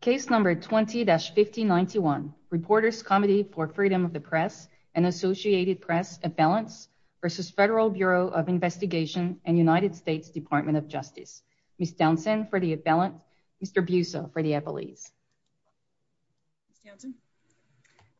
Case number 20-1591. Reporters Committee for Freedom of the Press and Associated Press Appellants v. Federal Bureau of Investigation and United States Department of Justice. Ms. Townsend for the appellant. Mr. Busso for the appellees.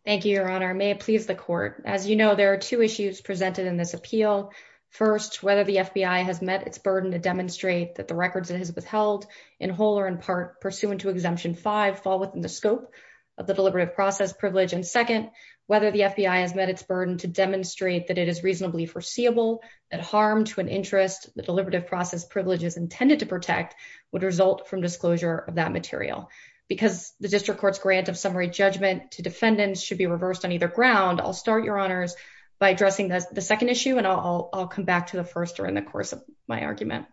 Thank you, Your Honor. May it please the Court. As you know, there are two issues presented in this appeal. First, whether the FBI has met its burden to demonstrate that the records it has held in whole or in part pursuant to Exemption 5 fall within the scope of the deliberative process privilege. And second, whether the FBI has met its burden to demonstrate that it is reasonably foreseeable that harm to an interest the deliberative process privileges intended to protect would result from disclosure of that material. Because the District Court's grant of summary judgment to defendants should be reversed on either ground, I'll start, Your Honors, by addressing the second issue, and I'll come back to the first during the course of my arguments.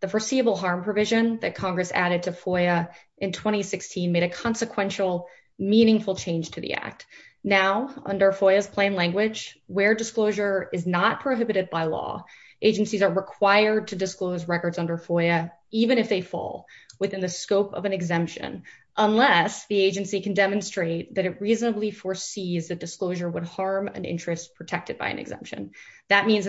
The foreseeable harm provision that Congress added to FOIA in 2016 made a consequential meaningful change to the Act. Now, under FOIA's plain language, where disclosure is not prohibited by law, agencies are required to disclose records under FOIA, even if they fall within the scope of an exemption, unless the agency can demonstrate that it reasonably foresees that disclosure would in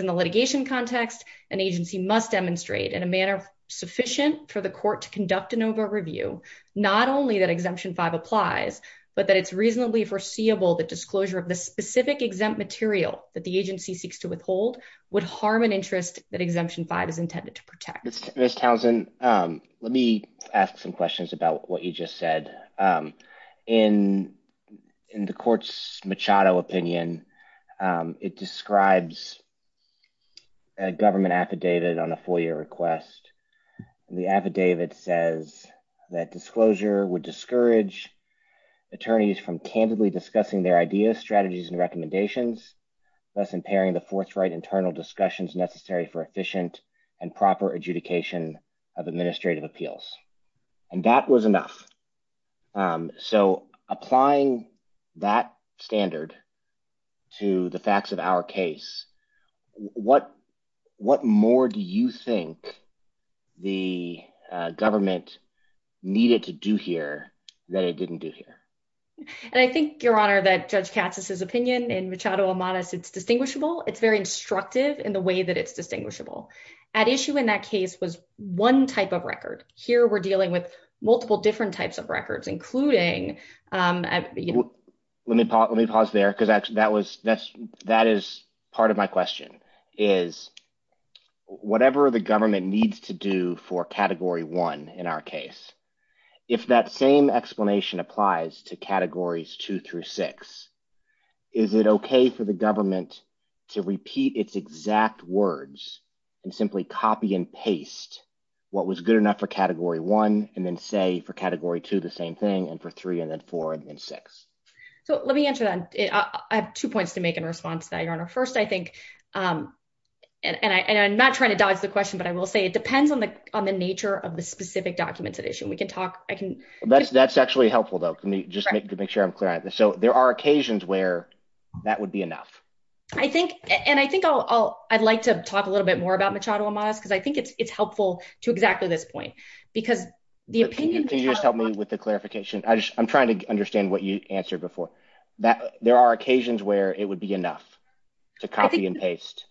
a litigation context, an agency must demonstrate in a manner sufficient for the court to conduct an over-review, not only that Exemption 5 applies, but that it's reasonably foreseeable that disclosure of the specific exempt material that the agency seeks to withhold would harm an interest that Exemption 5 is intended to protect. Ms. Townsend, let me ask some questions about what you just said. In the Court's Machado opinion, it describes a government affidavit on a FOIA request. The affidavit says that disclosure would discourage attorneys from candidly discussing their ideas, strategies, and recommendations, thus impairing the forthright internal discussions necessary for efficient and proper adjudication of administrative appeals. And that was enough. So, applying that standard to the facts of our case, what more do you think the government needed to do here that it didn't do here? And I think, Your Honor, that Judge Katz's opinion in Machado Amadas, it's distinguishable. It's very instructive in the way that it's distinguishable. At issue in that case was one type of record. Here, we're dealing with multiple different types records, including... Let me pause there, because that is part of my question, is whatever the government needs to do for Category 1 in our case, if that same explanation applies to Categories 2 through 6, is it okay for the government to repeat its exact words and simply copy and paste what was good enough for Category 1 and then say for Category 2 the same thing and for 3 and then 4 and 6? So, let me answer that. I have two points to make in response to that, Your Honor. First, I think... And I'm not trying to dodge the question, but I will say it depends on the nature of the specific documents at issue. We can talk... I can... That's actually helpful, though, just to make sure I'm clear on this. So, there are occasions where that would be enough. I think... And I think I'll... I'd like to talk a little bit more about Machado Amadas, because I think it's helpful to exactly this point, because the opinion... Can you just help me with the clarification? I just... I'm trying to understand what you answered before. There are occasions where it would be enough to copy and paste.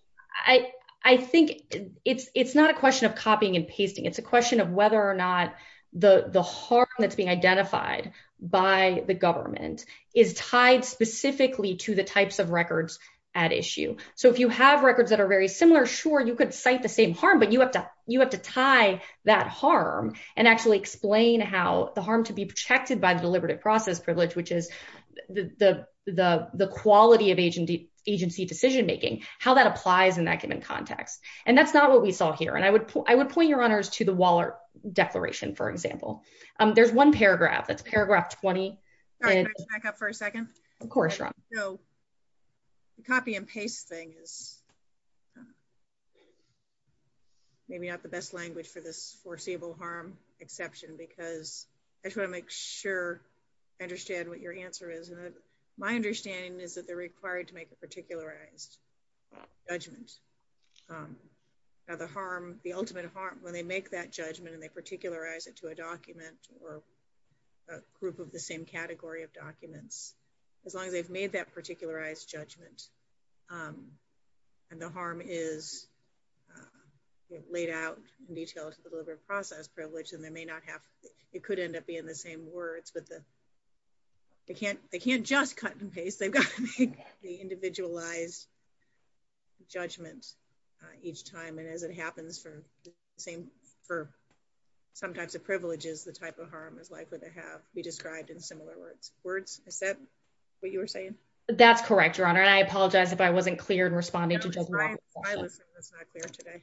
I think it's not a question of copying and pasting. It's a question of whether or not the harm that's being identified by the government is tied specifically to the types of records at issue. So, if you have records that are very similar, sure, you could cite the same harm, but you have to tie that harm and actually explain how the harm to be protected by the deliberative process privilege, which is the quality of agency decision-making, how that applies in that given context. And that's not what we saw here. And I would point, Your Honors, to the Waller Declaration, for example. There's one paragraph. That's paragraph 20. Can I back up for a second? Of course, Ron. So, the copy and paste thing is maybe not the best language for this foreseeable harm exception, because I just want to make sure I understand what your answer is. And my understanding is that they're required to make a particularized judgment. Now, the harm, the ultimate harm, when they make that judgment and they particularize it to a document or a group of the same category of documents, as long as they've made that particularized judgment and the harm is laid out in detail to the deliberative process privilege, then they may not have, it could end up being the same words, but they can't just cut and paste. They've got to make the individualized judgment each time. And as it happens for the same, for some types of privileges, the type of harm is likely to have be described in similar words. Is that what you were saying? That's correct, Your Honor. And I apologize if I wasn't clear in responding to Judge Walker's question. I was not clear today.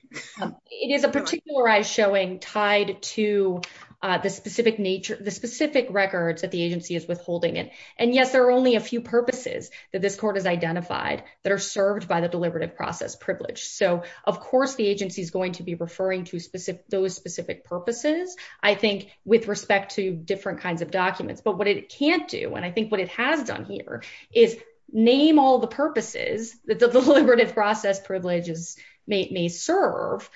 It is a particularized showing tied to the specific nature, the specific records that the agency is withholding. And yes, there are only a few purposes that this court has identified that are served by the deliberative process privilege. So of course, the agency is going to be referring to those specific purposes, I think, with respect to different kinds of documents. But what it can't do, and I think what it has done here, is name all the purposes that the privilege serve,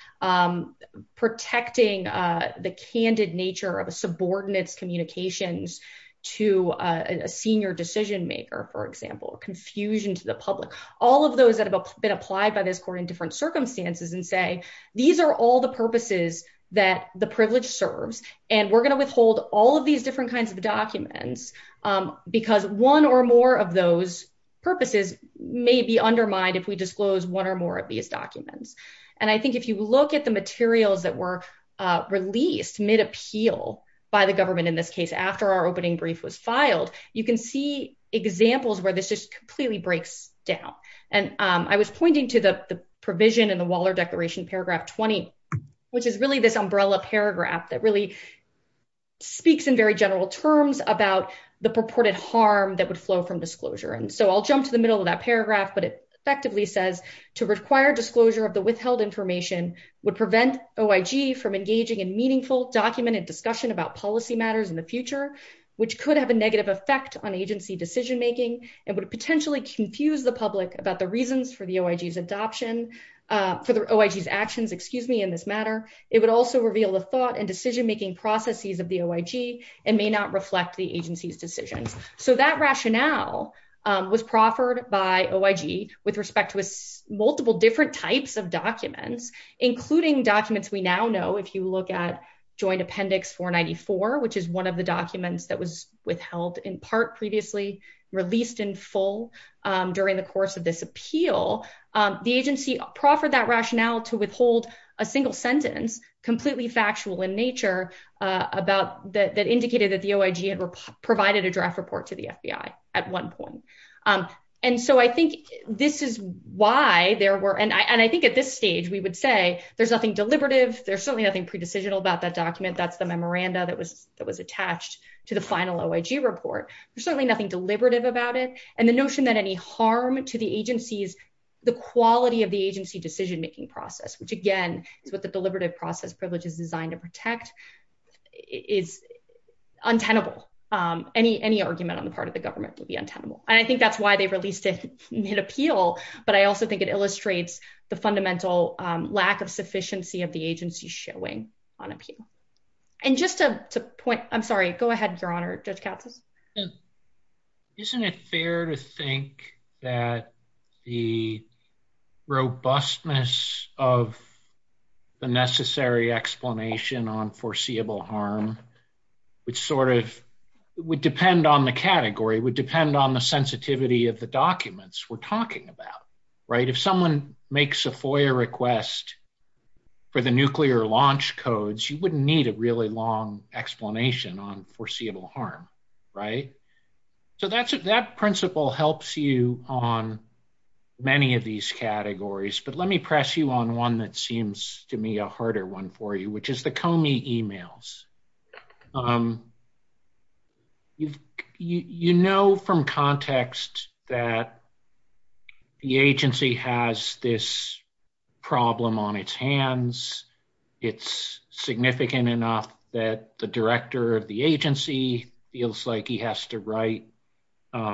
protecting the candid nature of a subordinate's communications to a senior decision maker, for example, confusion to the public, all of those that have been applied by this court in different circumstances and say, these are all the purposes that the privilege serves. And we're going to withhold all of these different kinds of documents, because one or more of those purposes may be undermined if we disclose one or more of these documents. And I think if you look at the materials that were released mid-appeal by the government, in this case, after our opening brief was filed, you can see examples where this just completely breaks down. And I was pointing to the provision in the Waller Declaration, paragraph 20, which is really this umbrella paragraph that really speaks in very general terms about the purported harm that would flow from disclosure. And so I'll jump to the middle of that paragraph, but it effectively says, to require disclosure of the withheld information would prevent OIG from engaging in meaningful documented discussion about policy matters in the future, which could have a negative effect on agency decision-making and would potentially confuse the public about the reasons for the OIG's adoption, for the OIG's actions, excuse me, in this matter. It would also reveal the thought and decision-making processes of the OIG and may reflect the agency's decisions. So that rationale was proffered by OIG with respect to multiple different types of documents, including documents we now know, if you look at Joint Appendix 494, which is one of the documents that was withheld in part previously, released in full during the course of this appeal, the agency proffered that rationale to withhold a single sentence, completely factual in nature, that indicated that the OIG had provided a draft report to the FBI at one point. And so I think this is why there were, and I think at this stage we would say there's nothing deliberative, there's certainly nothing pre-decisional about that document, that's the memoranda that was attached to the final OIG report, there's certainly nothing deliberative about it. And the notion that any harm to the agency's, the quality of the agency decision-making process, which again is what the deliberative process privilege is designed to protect, is untenable. Any argument on the part of the government would be untenable. And I think that's why they released it mid-appeal, but I also think it illustrates the fundamental lack of sufficiency of the agency showing on appeal. And just to point, I'm sorry, go ahead, Your Honor, Judge Katsas. Isn't it fair to think that the robustness of the necessary explanation on foreseeable harm, which sort of would depend on the category, would depend on the sensitivity of the documents we're talking about, right? If someone makes a FOIA request for the nuclear launch codes, you wouldn't need a really long explanation on foreseeable harm, right? So that principle helps you on many of these categories, but let me press you on one that seems to me a harder one for you, which is the Comey emails. You know from context that the agency has this it's significant enough that the director of the agency feels like he has to write the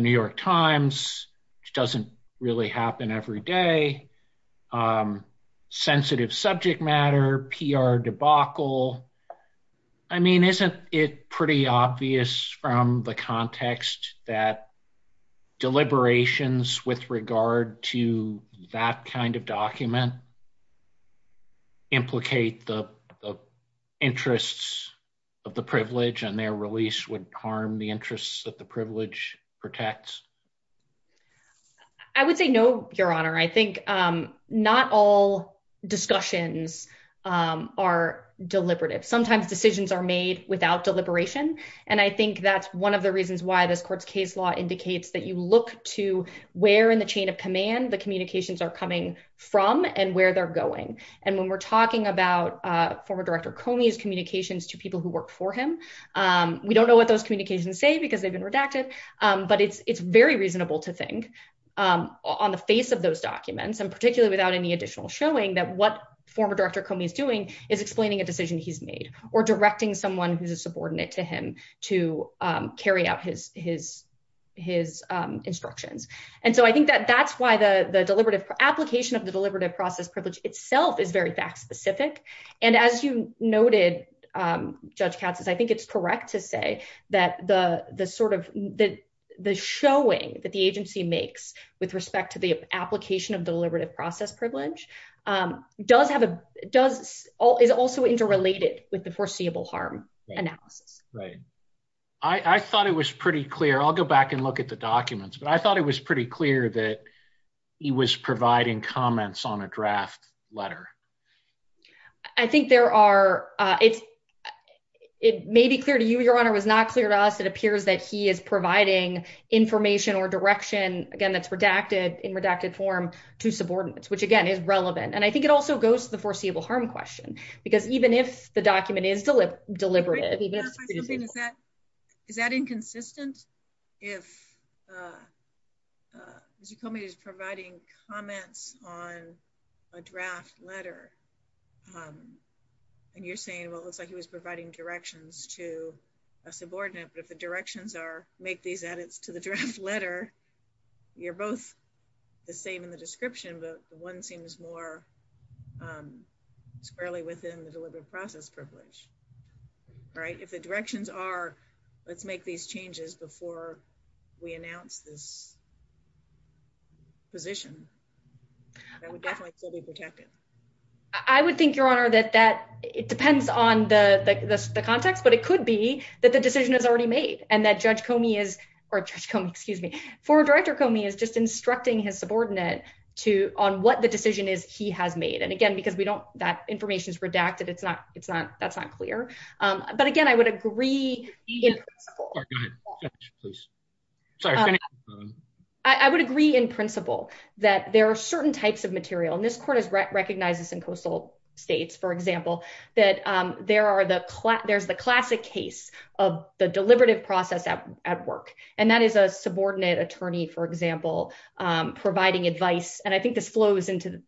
New York Times, which doesn't really happen every day, sensitive subject matter, PR debacle. I mean, isn't it pretty obvious from the context that deliberations with regard to that kind of document implicate the interests of the privilege and their release would harm the interests that the privilege protects? I would say no, Your Honor. I think not all discussions are deliberative. Sometimes decisions are made without deliberation, and I think that's one of the reasons why this court's case law indicates that you look to where in the chain of command the communications are coming from and where they're going. And when we're talking about former director Comey's communications to people who worked for him, we don't know what those communications say because they've been redacted, but it's very reasonable to think on the face of those documents and particularly without any additional showing that what former director Comey is doing is explaining a decision he's made or directing someone who's a subordinate to him to carry out his instructions. And so I think that that's why the application of the deliberative process privilege itself is very fact-specific. And as you noted, Judge Katz, I think it's correct to say that the showing that the agency makes with respect to the application of deliberative process privilege is also interrelated with the foreseeable harm analysis. Right. I thought it was pretty clear. I'll go back and look at the documents, but I thought it was pretty clear that he was providing comments on a draft letter. I think there are. It may be clear to you, Your Honor, was not clear to us. It appears that he is providing information or direction, again, that's redacted in redacted form to subordinates, which, again, is relevant. And I think it also goes to the foreseeable harm question because even if the document is deliberate. Is that inconsistent? If as you call me, he's providing comments on a draft letter and you're saying, well, it looks like he was providing directions to a subordinate. But if the directions are make these edits to the draft letter, you're both the same in the description, but the one seems more squarely within the deliberative process privilege. Right. If the directions are, let's make these changes before we announce this. Position. I would definitely still be protected. I would think, Your Honor, that that it depends on the context, but it could be that the decision is already made and that Judge Comey is or for Director Comey is just instructing his subordinate to on what the decision is he has made. And again, because we don't that information is redacted. It's not it's not that's not clear. But again, I would agree. I would agree in principle that there are certain types of material in this court is recognized in coastal states, for example, that there are the there's a classic case of the deliberative process at work. And that is a subordinate attorney, for example, providing advice. And I think this flows into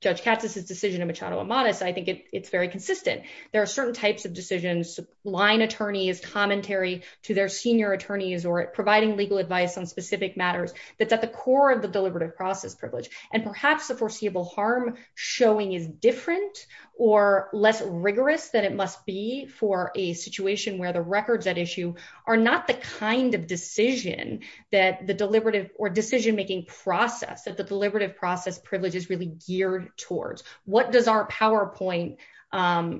Judge Katz's decision in Machado Amatis. I think it's very consistent. There are certain types of decisions, line attorneys, commentary to their senior attorneys or providing legal advice on specific matters that's at the core of the deliberative process privilege. And perhaps the foreseeable harm showing is different or less rigorous than it must be for a situation where the records at issue are not the kind of decision that the deliberative or decision making process that the deliberative process privilege is really geared towards. What does our PowerPoint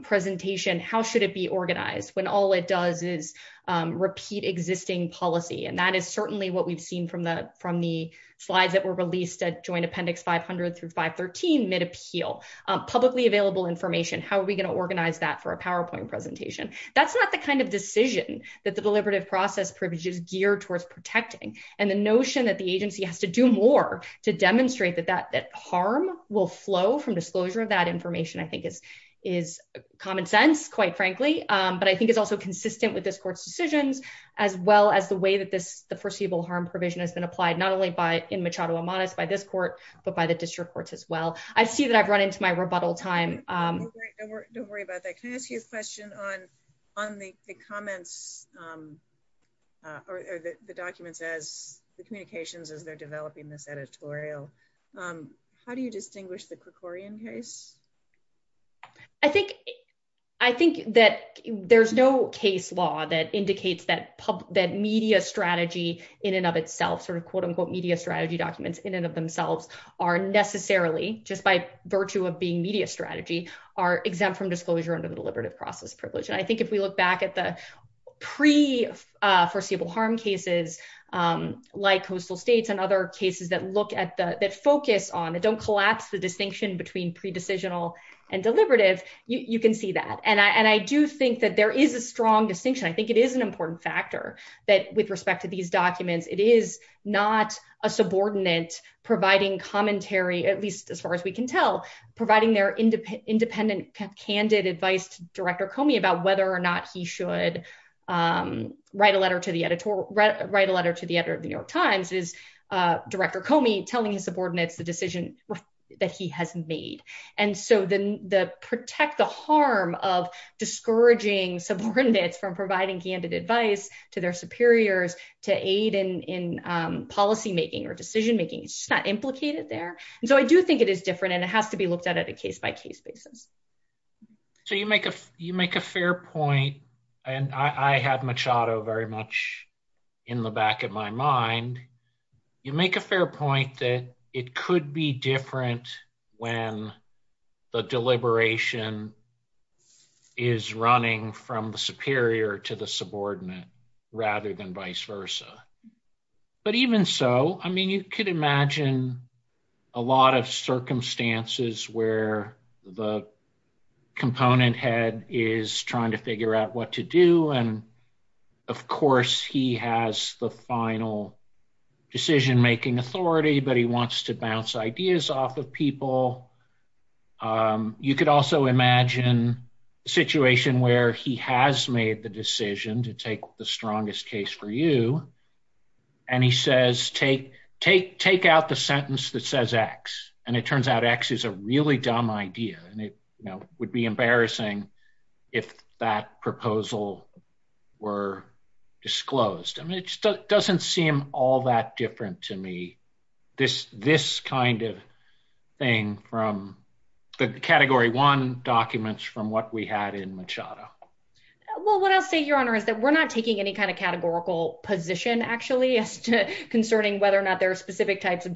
presentation? How should it be organized when all it does is repeat existing policy? And that is certainly what we've seen from the from the slides that were released at Joint Appendix 500 through 513, mid appeal, publicly available information. How are we going to organize that for a PowerPoint presentation? That's not the kind of decision that the deliberative process privileges geared towards protecting. And the notion that the agency has to do more to demonstrate that that harm will flow from disclosure of that information, I think, is is common sense, quite frankly, but I think is also consistent with this court's decisions, as well as the way that this the foreseeable harm provision has been applied not only by in Machado Amadeus by this court, but by the district courts as well, I see that I've run into my rebuttal time. Don't worry about that. Can I ask you a question on, on the comments, or the documents as the communications as they're developing this editorial? How do you distinguish the Krikorian case? I think, I think that there's no case law that indicates that that media strategy in and of itself, sort of quote, unquote, media strategy documents in and of themselves are necessarily just by virtue of being media strategy, are exempt from disclosure under the deliberative process privilege. And I think if we look back at the pre foreseeable harm cases, like coastal states and other cases that look at the focus on it, don't collapse the distinction between pre decisional and deliberative, you can see that and I do think that there is a strong distinction, I think it is an important factor that with respect to these documents, it is not a subordinate providing commentary, at least as far as we can tell, providing their independent, independent, candid advice to Director Comey about whether or not he should write a letter to the editor, write a letter to the editor of the New York Times is Director Comey telling his subordinates the decision that he has made. And so the the protect the harm of discouraging subordinates from providing candid advice to their superiors to aid in policymaking or decision making is not implicated there. And so I do think it is different. And it has to be looked at a case by case basis. So you make a you make a fair point. And I have Machado very much in the back of my mind, you make a fair point that it could be different when the deliberation is running from the superior to the subordinate, rather than vice versa. But even so, I mean, you could imagine a lot of circumstances where the component head is trying to figure out what to do. And of course, he has the final decision making authority, but he wants to bounce ideas off of people. You could also imagine a situation where he has made the decision to take the strongest case for you. And he says, take, take, take out the sentence that says X. And it turns out X is really dumb idea. And it would be embarrassing if that proposal were disclosed. And it doesn't seem all that different to me. This this kind of thing from the category one documents from what we had in Machado. Well, what I'll say, Your Honor, is that we're not taking any kind of categorical position actually, as to concerning whether or not there are specific types of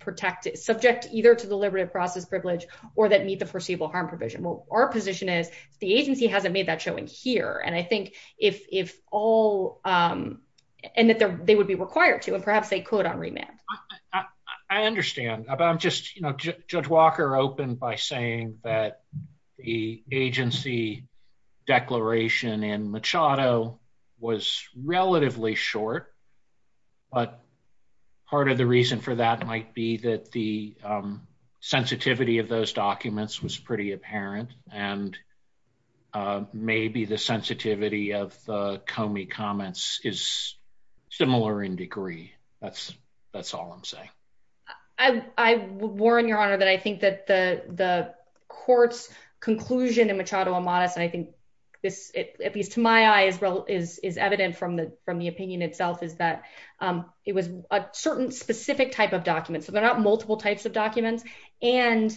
protected subject either to deliberative process privilege, or that meet the foreseeable harm provision. Well, our position is the agency hasn't made that showing here. And I think if all and that they would be required to and perhaps they could on remand. I understand about I'm just, you know, Judge Walker opened by saying that the agency declaration and Machado was relatively short. But part of the reason for that might be that the sensitivity of those documents was pretty apparent. And maybe the sensitivity of Comey comments is similar in degree. That's, that's all I'm saying. I warn your honor that I think that the the court's conclusion in Machado a I think this, at least to my eyes, is evident from the from the opinion itself is that it was a certain specific type of document. So they're not multiple types of documents. And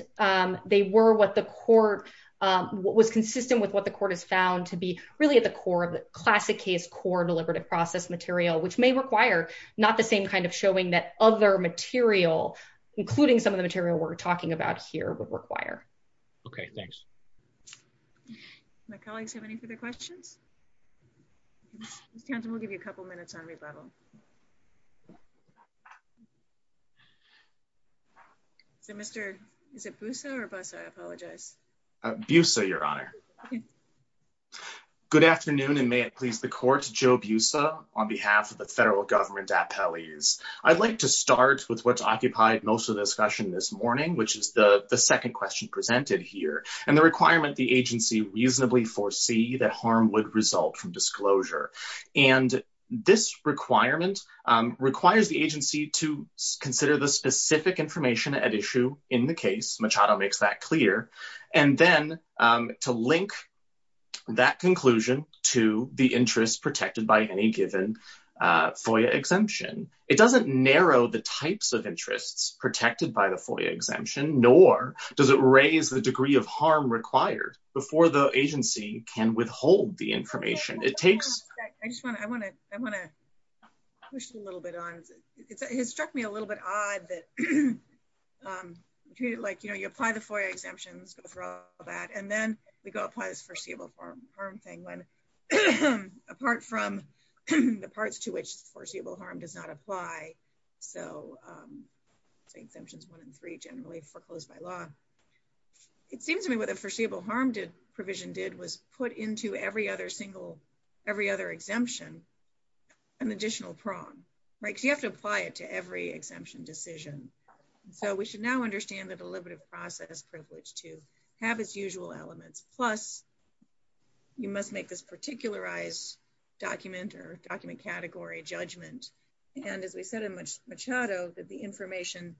they were what the court was consistent with what the court has found to be really at the core of the classic case core deliberative process material, which may require not the same kind of showing that other material, including some of the material we're talking about here would require. Okay, thanks. My colleagues have any further questions? We'll give you a couple minutes on rebuttal. So Mr. is it Boussa or Boussa I apologize. Boussa your honor. Good afternoon, and may it please the court Joe Boussa on behalf of the federal government appellees. I'd like to start with what's occupied most of the discussion this morning, which is the second question presented here and the requirement the agency reasonably foresee that harm would result from disclosure. And this requirement requires the agency to consider the specific information at issue in the case Machado makes that clear. And then to link that conclusion to the interest protected by any given FOIA exemption. It doesn't narrow the types of Does it raise the degree of harm required before the agency can withhold the information it takes? I just want to I want to I want to push a little bit on it has struck me a little bit odd that like you know you apply the FOIA exemptions go through all that and then we go apply this foreseeable harm thing when apart from the parts to which foreseeable harm does not apply. So say exemptions one and three generally foreclosed by law. It seems to me what the foreseeable harm did provision did was put into every other single every other exemption an additional prong right you have to apply it to every exemption decision. So we should now understand the deliberative process privilege to have its usual elements plus you must make this particularized document or document category judgment and as we said in much Machado that the information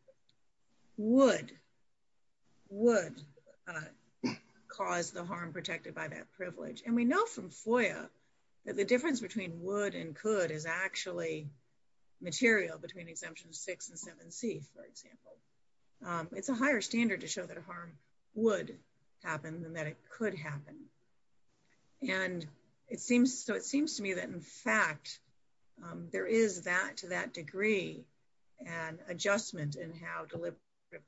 would would cause the harm protected by that privilege. And we know from FOIA that the difference between would and could is actually material between exemptions six and seven c for example. It's a higher standard to show that a harm would happen than that it could happen. And it seems so it seems to me that in fact there is that to that degree and adjustment in how deliberative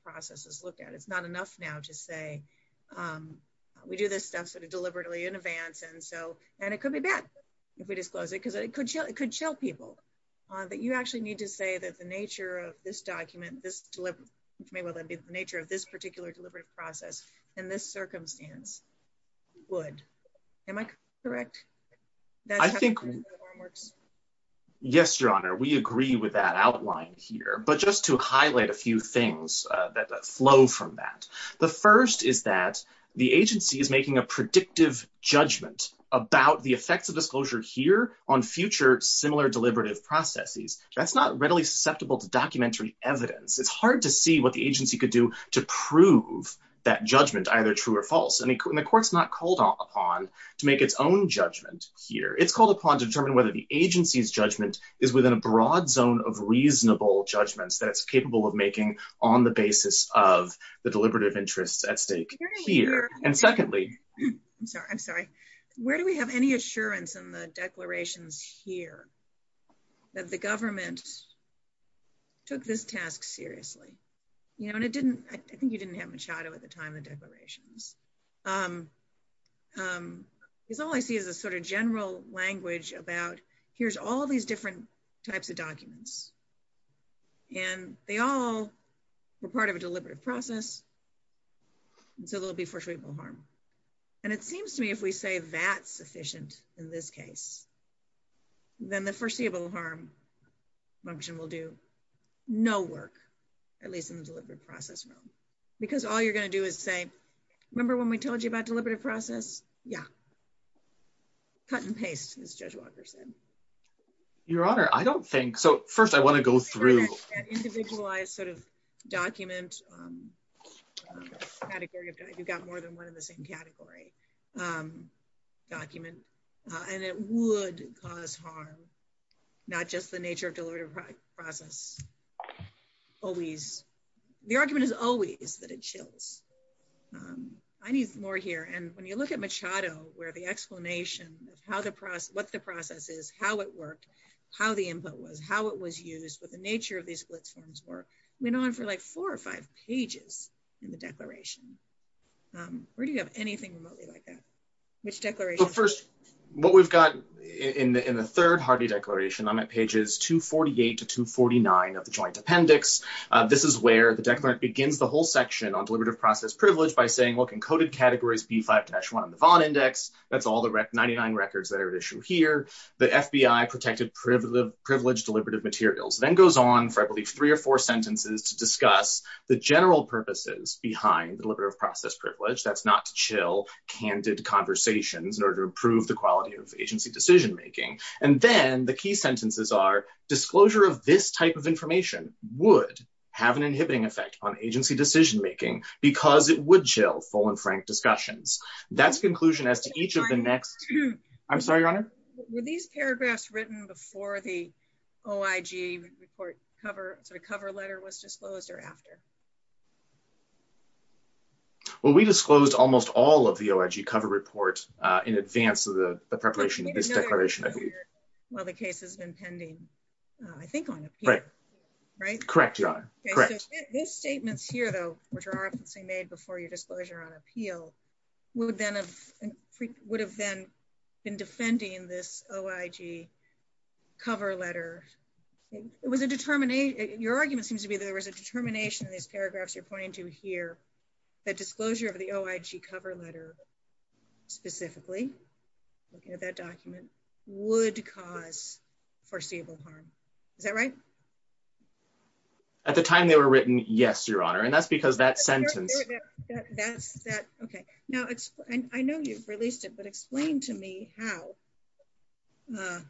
processes look at it's not enough now to say we do this stuff sort of deliberately in advance and so and it could be bad if we disclose it because it could show it could show people that you actually need to say that the nature of this document this deliver which may well then be the nature of this particular deliberative process in this circumstance would am I correct? I think yes your honor we agree with that outline here but just to highlight a few things that flow from that the first is that the agency is making a predictive judgment about the effects of disclosure here on future similar deliberative processes that's not readily susceptible to documentary evidence it's hard to see what the agency could to prove that judgment either true or false and the court's not called upon to make its own judgment here it's called upon to determine whether the agency's judgment is within a broad zone of reasonable judgments that it's capable of making on the basis of the deliberative interests at stake here and secondly I'm sorry I'm sorry where do we have any assurance in the declarations here that the government took this task seriously you know and it didn't I think you didn't have much shadow at the time the declarations because all I see is a sort of general language about here's all these different types of documents and they all were part of a deliberative process and so they'll be for treatable harm and it seems to me if we say that's sufficient in this case then the foreseeable harm function will do no work at least in the deliberate process room because all you're going to do is say remember when we told you about deliberative process yeah cut and paste as judge walker said your honor I don't think so first I want to go through individualized sort of document category if you've got more than one in the same category um document and it would cause harm not just the nature of deliberative process always the argument is always that it chills um I need more here and when you look at machado where the explanation of how the process what the process is how it worked how the input was how it was used what the nature of these blitz forms were went on for like four or five pages in the which declaration first what we've got in the in the third hardy declaration I'm at pages 248 to 249 of the joint appendix uh this is where the declarant begins the whole section on deliberative process privilege by saying look encoded categories b5-1 on the von index that's all the rec 99 records that are at issue here the fbi protected primitive privilege deliberative materials then goes on for I believe three or four sentences to discuss the general purposes behind the process privilege that's not to chill candid conversations in order to improve the quality of agency decision making and then the key sentences are disclosure of this type of information would have an inhibiting effect on agency decision making because it would chill full and frank discussions that's conclusion as to each of the next I'm sorry your honor were these paragraphs written before the oig report cover sort of cover letter was disclosed or after well we disclosed almost all of the oig cover report uh in advance of the preparation of this declaration I believe well the case has been pending I think on appeal right correct your honor correct these statements here though which are often made before your disclosure on appeal would then have would have then been defending this oig cover letter it was a determination your argument seems to be there was a determination in these paragraphs you're pointing to here that disclosure of the oig cover letter specifically looking at that document would cause foreseeable harm is that right at the time they were written yes your honor and that's because that sentence that's that okay now it's I know you've released it but explain to me how uh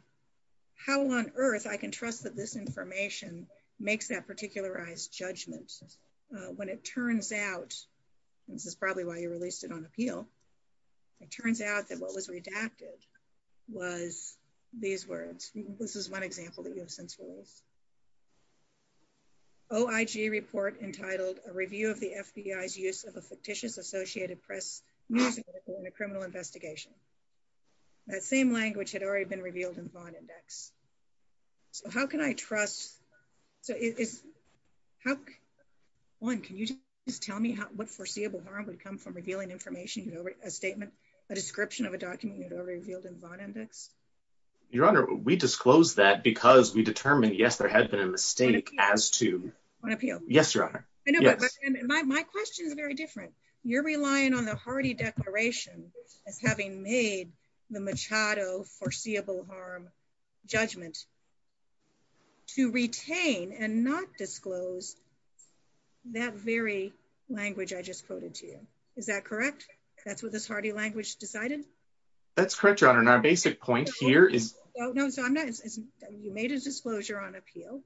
how on earth I can trust that this information makes that particularized judgment when it turns out this is probably why you released it on appeal it turns out that what was redacted was these words this is one example that you have since rules oig report entitled a review of the FBI's use of a fictitious associated press news in a criminal investigation that same language had already been revealed in the bond index so how can I trust so is how one can you just tell me how what foreseeable harm would come from revealing information you know a statement a description of a document you'd already revealed in bond index your honor we disclosed that because we determined yes there had been a mistake as to on appeal yes your honor I know my question is very different you're relying on the hardy declaration as having made the machado foreseeable harm judgment to retain and not disclose that very language I just quoted to you is that correct that's what this hardy language decided that's correct your honor and our basic point here is no no so I'm not as you made a disclosure on appeal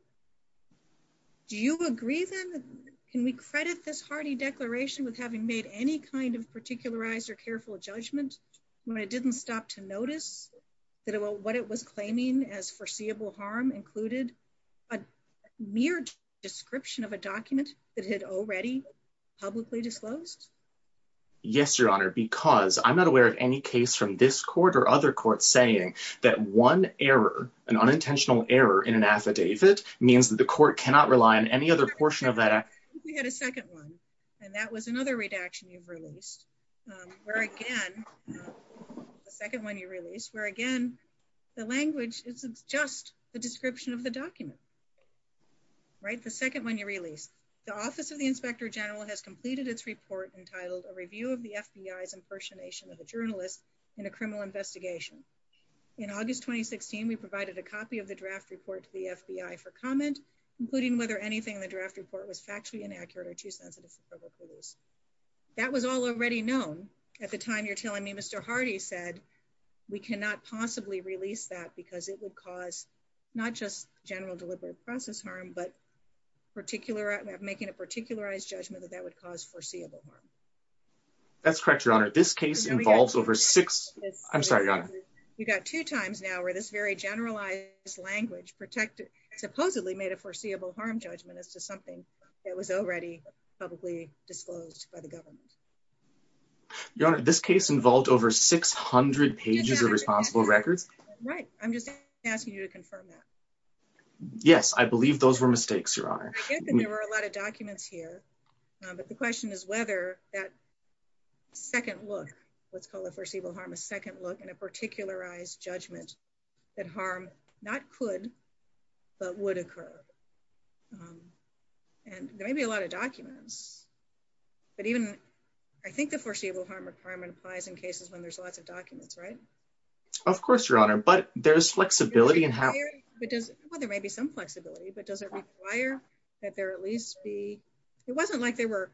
do you agree then can we credit this hardy declaration with having made any kind of particularized or careful judgment when it didn't stop to notice that what it was claiming as foreseeable harm included a mere description of a document that had already publicly disclosed yes your honor because I'm not aware of any case from this court or other court saying that one error an unintentional error in an affidavit means that the court cannot rely on any other portion of that we had a second one and that was another redaction you've released where again the second one you release where again the language is just the description of the document right the second one you release the office of the inspector general has completed its report entitled a review of the fbi's impersonation of a journalist in a criminal investigation in august 2016 we provided a copy of the draft report to the fbi for comment including whether anything in the draft report was factually inaccurate or too sensitive for at the time you're telling me mr hardy said we cannot possibly release that because it would cause not just general deliberate process harm but particular making a particularized judgment that that would cause foreseeable harm that's correct your honor this case involves over six i'm sorry you got two times now where this very generalized language protected supposedly made a foreseeable harm judgment as to something that was already publicly disclosed by the government your honor this case involved over 600 pages of responsible records right i'm just asking you to confirm that yes i believe those were mistakes your honor there were a lot of documents here but the question is whether that second look what's called a foreseeable harm a second look in a particularized judgment that harm not could but would occur um and there may be a lot of harm requirement applies in cases when there's lots of documents right of course your honor but there's flexibility and how it does well there may be some flexibility but does it require that there at least be it wasn't like there were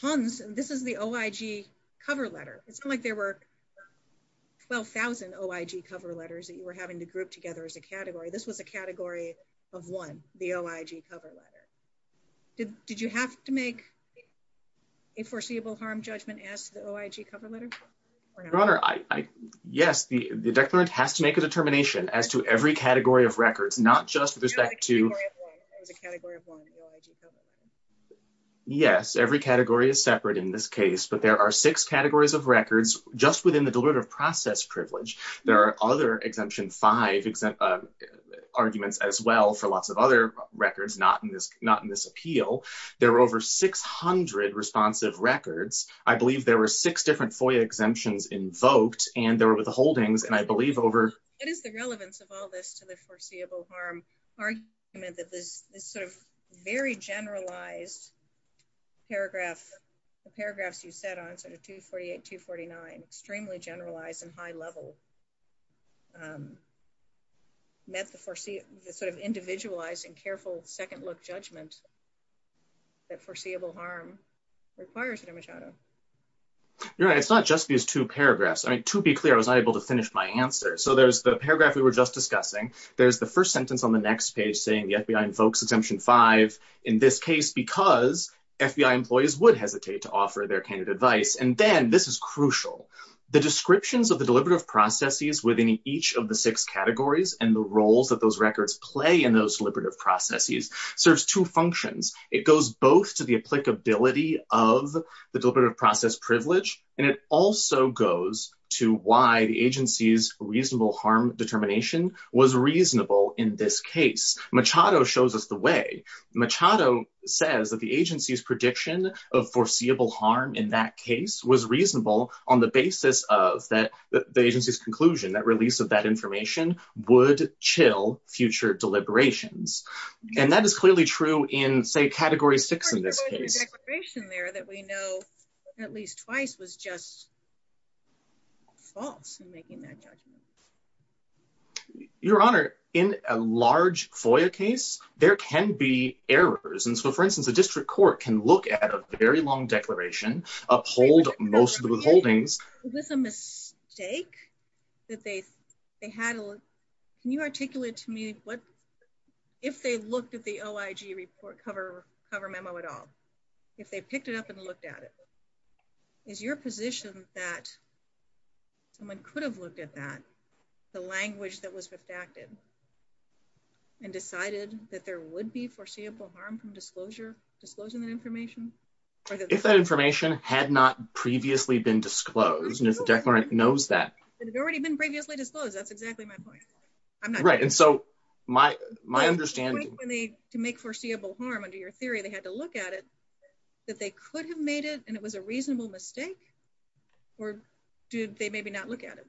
tons this is the oig cover letter it's not like there were 12 000 oig cover letters that you were having to group together as a category this was a the oig cover letter your honor i i yes the the declarant has to make a determination as to every category of records not just with respect to the category of one yes every category is separate in this case but there are six categories of records just within the deliberative process privilege there are other exemption five exempt arguments as well for lots of other records not not in this appeal there were over 600 responsive records i believe there were six different FOIA exemptions invoked and they were with the holdings and i believe over it is the relevance of all this to the foreseeable harm argument that this this sort of very generalized paragraph the paragraphs you said on sort of 248 249 extremely generalized and high level um met the foresee the sort of individualized and careful second look judgment that foreseeable harm requires an imagado you're right it's not just these two paragraphs i mean to be clear i was not able to finish my answer so there's the paragraph we were just discussing there's the first sentence on the next page saying the fbi invokes exemption five in this case because fbi employees would hesitate to offer their candidate advice and then this is crucial the descriptions of the deliberative processes within each of the six categories and the roles that those records play in those deliberative processes serves two functions it goes both to the applicability of the deliberative process privilege and it also goes to why the agency's reasonable harm determination was reasonable in this case machado shows us the way machado says that the agency's prediction of foreseeable harm in that case was reasonable on the basis of that the agency's conclusion that release of that information would chill future deliberations and that is clearly true in say category six in this case declaration there that we know at least twice was just false in making that judgment your honor in a large FOIA case there can be errors and so for can look at a very long declaration uphold most of the withholdings was a mistake that they they had a can you articulate to me what if they looked at the oig report cover cover memo at all if they picked it up and looked at it is your position that someone could have looked at that the language that was refactored and decided that there would be foreseeable harm from disclosure disclosing that information if that information had not previously been disclosed and if the declarant knows that it had already been previously disclosed that's exactly my point i'm not right and so my my understanding when they to make foreseeable harm under your theory they had to look at it that they could have made it and it was a reasonable mistake or did they maybe look at it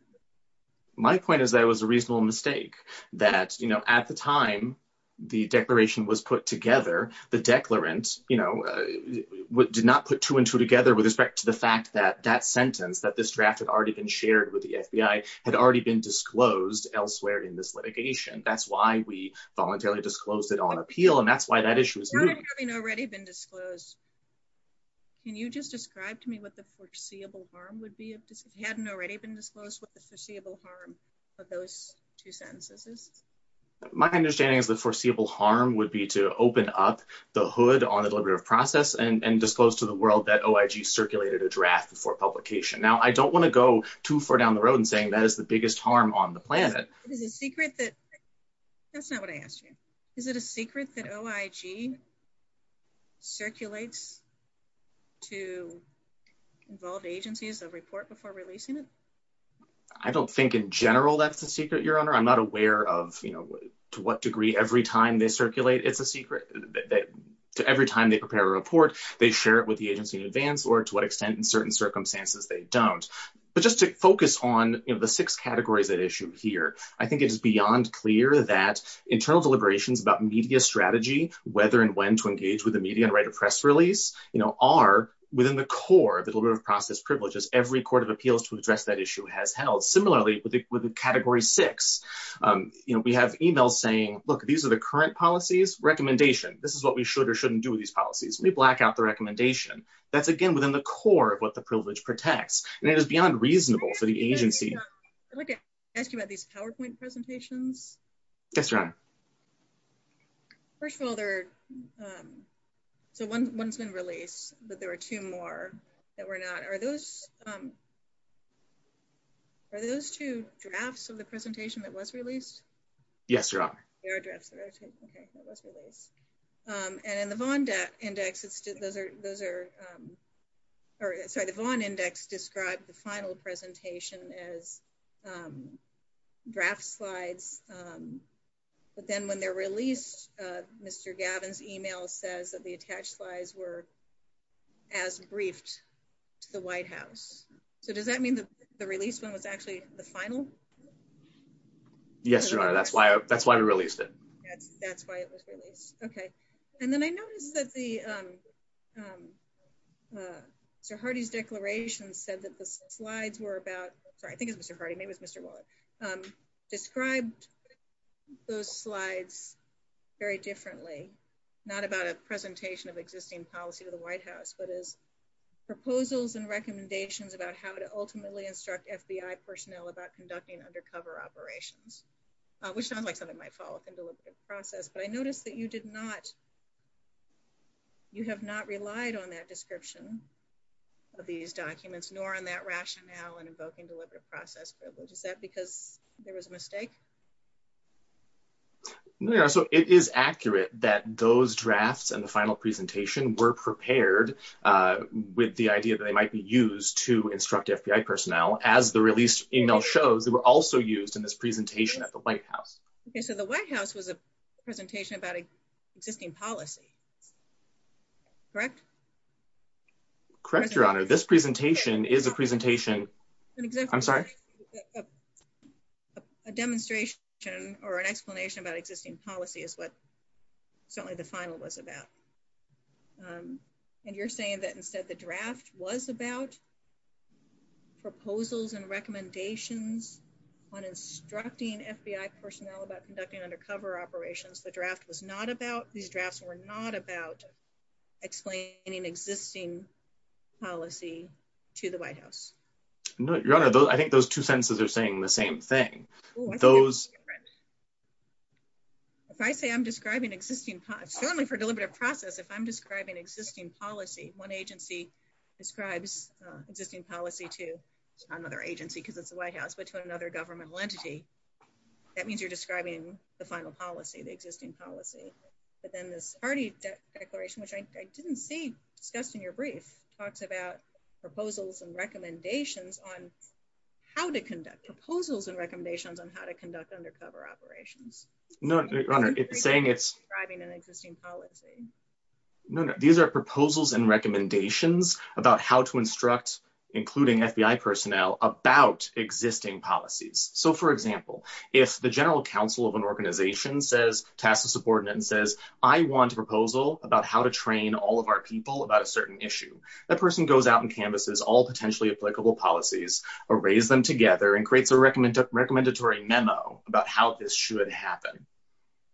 my point is that it was a reasonable mistake that you know at the time the declaration was put together the declarant you know did not put two and two together with respect to the fact that that sentence that this draft had already been shared with the FBI had already been disclosed elsewhere in this litigation that's why we voluntarily disclosed it on appeal and that's why that issue is having already been disclosed can you just describe to me what the foreseeable harm would be if this hadn't already been disclosed with the foreseeable harm of those two sentences my understanding is the foreseeable harm would be to open up the hood on the deliberative process and and disclose to the world that oig circulated a draft before publication now i don't want to go too far down the road and saying that is the biggest harm on the planet it is a secret that that's not what i asked you is it a secret that oig circulates to involved agencies that report before releasing it i don't think in general that's the secret your honor i'm not aware of you know to what degree every time they circulate it's a secret to every time they prepare a report they share it with the agency in advance or to what extent in certain circumstances they don't but just to focus on you know the six categories that issue here i think it is beyond clear that internal deliberations about media strategy whether and when to engage with the media and write a press release you know are within the core of the deliberative process privileges every court of appeals to address that issue has held similarly with the category six um you know we have emails saying look these are the current policies recommendation this is what we should or shouldn't do with these policies we black out the recommendation that's again within the core of what the privilege protects and it is beyond reasonable for the agency i'd like to ask you about these powerpoint presentations yes your honor first of all um so one's been released but there are two more that were not are those um are those two drafts of the presentation that was released yes your honor there are drafts okay that was released um and in the von index it's just those are those are um or sorry the von index described the final presentation as um draft slides um but then when they're released uh mr gavin's email says that the attached slides were as briefed to the white house so does that mean that the release one was actually the final yes your honor that's why that's why we released it that's that's why it was released okay and then i noticed that the um um uh sir hardy's declaration said that the slides were about sorry i think it's hardy maybe it's mr wallett um described those slides very differently not about a presentation of existing policy to the white house but as proposals and recommendations about how to ultimately instruct fbi personnel about conducting undercover operations which sounds like something might fall within the process but i noticed that you did not you have not relied on that description of these documents nor on that rationale and invoking deliberative process privilege is that because there was a mistake so it is accurate that those drafts and the final presentation were prepared uh with the idea that they might be used to instruct fbi personnel as the released email shows they were also used in this presentation at the white house okay so the correct your honor this presentation is a presentation i'm sorry a demonstration or an explanation about existing policy is what certainly the final was about and you're saying that instead the draft was about proposals and recommendations on instructing fbi personnel about conducting undercover operations the draft was not about these drafts were not about explaining existing policy to the white house no your honor those i think those two senses are saying the same thing those if i say i'm describing existing certainly for deliberative process if i'm describing existing policy one agency describes uh existing policy to another agency because it's the white house but to another governmental entity that means you're describing the final policy the party declaration which i didn't see discussed in your brief talks about proposals and recommendations on how to conduct proposals and recommendations on how to conduct undercover operations no it's saying it's driving an existing policy no no these are proposals and recommendations about how to instruct including fbi personnel about existing policies so for example if the general counsel of an organization says task of support and says i want a proposal about how to train all of our people about a certain issue that person goes out and canvases all potentially applicable policies or raise them together and creates a recommend recommendatory memo about how this should happen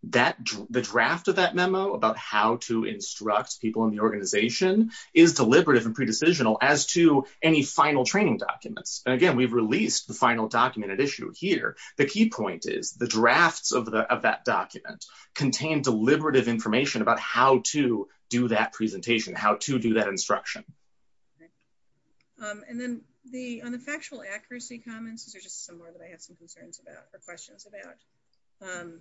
that the draft of that memo about how to instruct people in the organization is deliberative and pre-decisional as to any final training documents and again we've released the final documented issue here the key point is the drafts of the of that document contain deliberative information about how to do that presentation how to do that instruction um and then the on the factual accuracy comments these are just some more that i have some concerns about or questions about um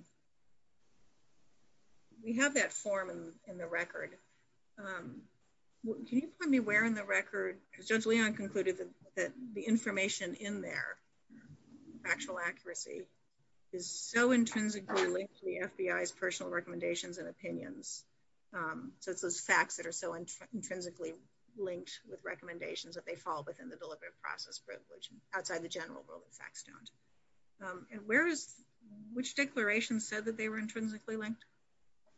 we have that form in the record um can you tell me where in the record judge leon concluded that the information in there factual accuracy is so intrinsically linked to the fbi's personal recommendations and opinions um so it's those facts that are so intrinsically linked with recommendations that they fall within the deliberative process privilege outside the general world the facts don't um and where is which declaration said that they were intrinsically linked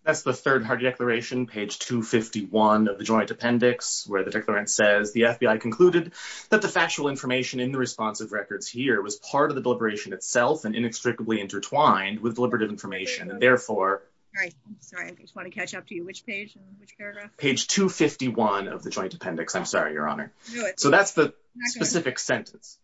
that's the third hard declaration page 251 of the joint appendix where the declarant says the fbi concluded that the factual information in the responsive records here was part of the deliberation itself and inextricably intertwined with deliberative information and therefore all right i'm sorry i just want to catch up to you which page and which paragraph page 251 of the joint appendix i'm sorry your honor so that's the specific sentence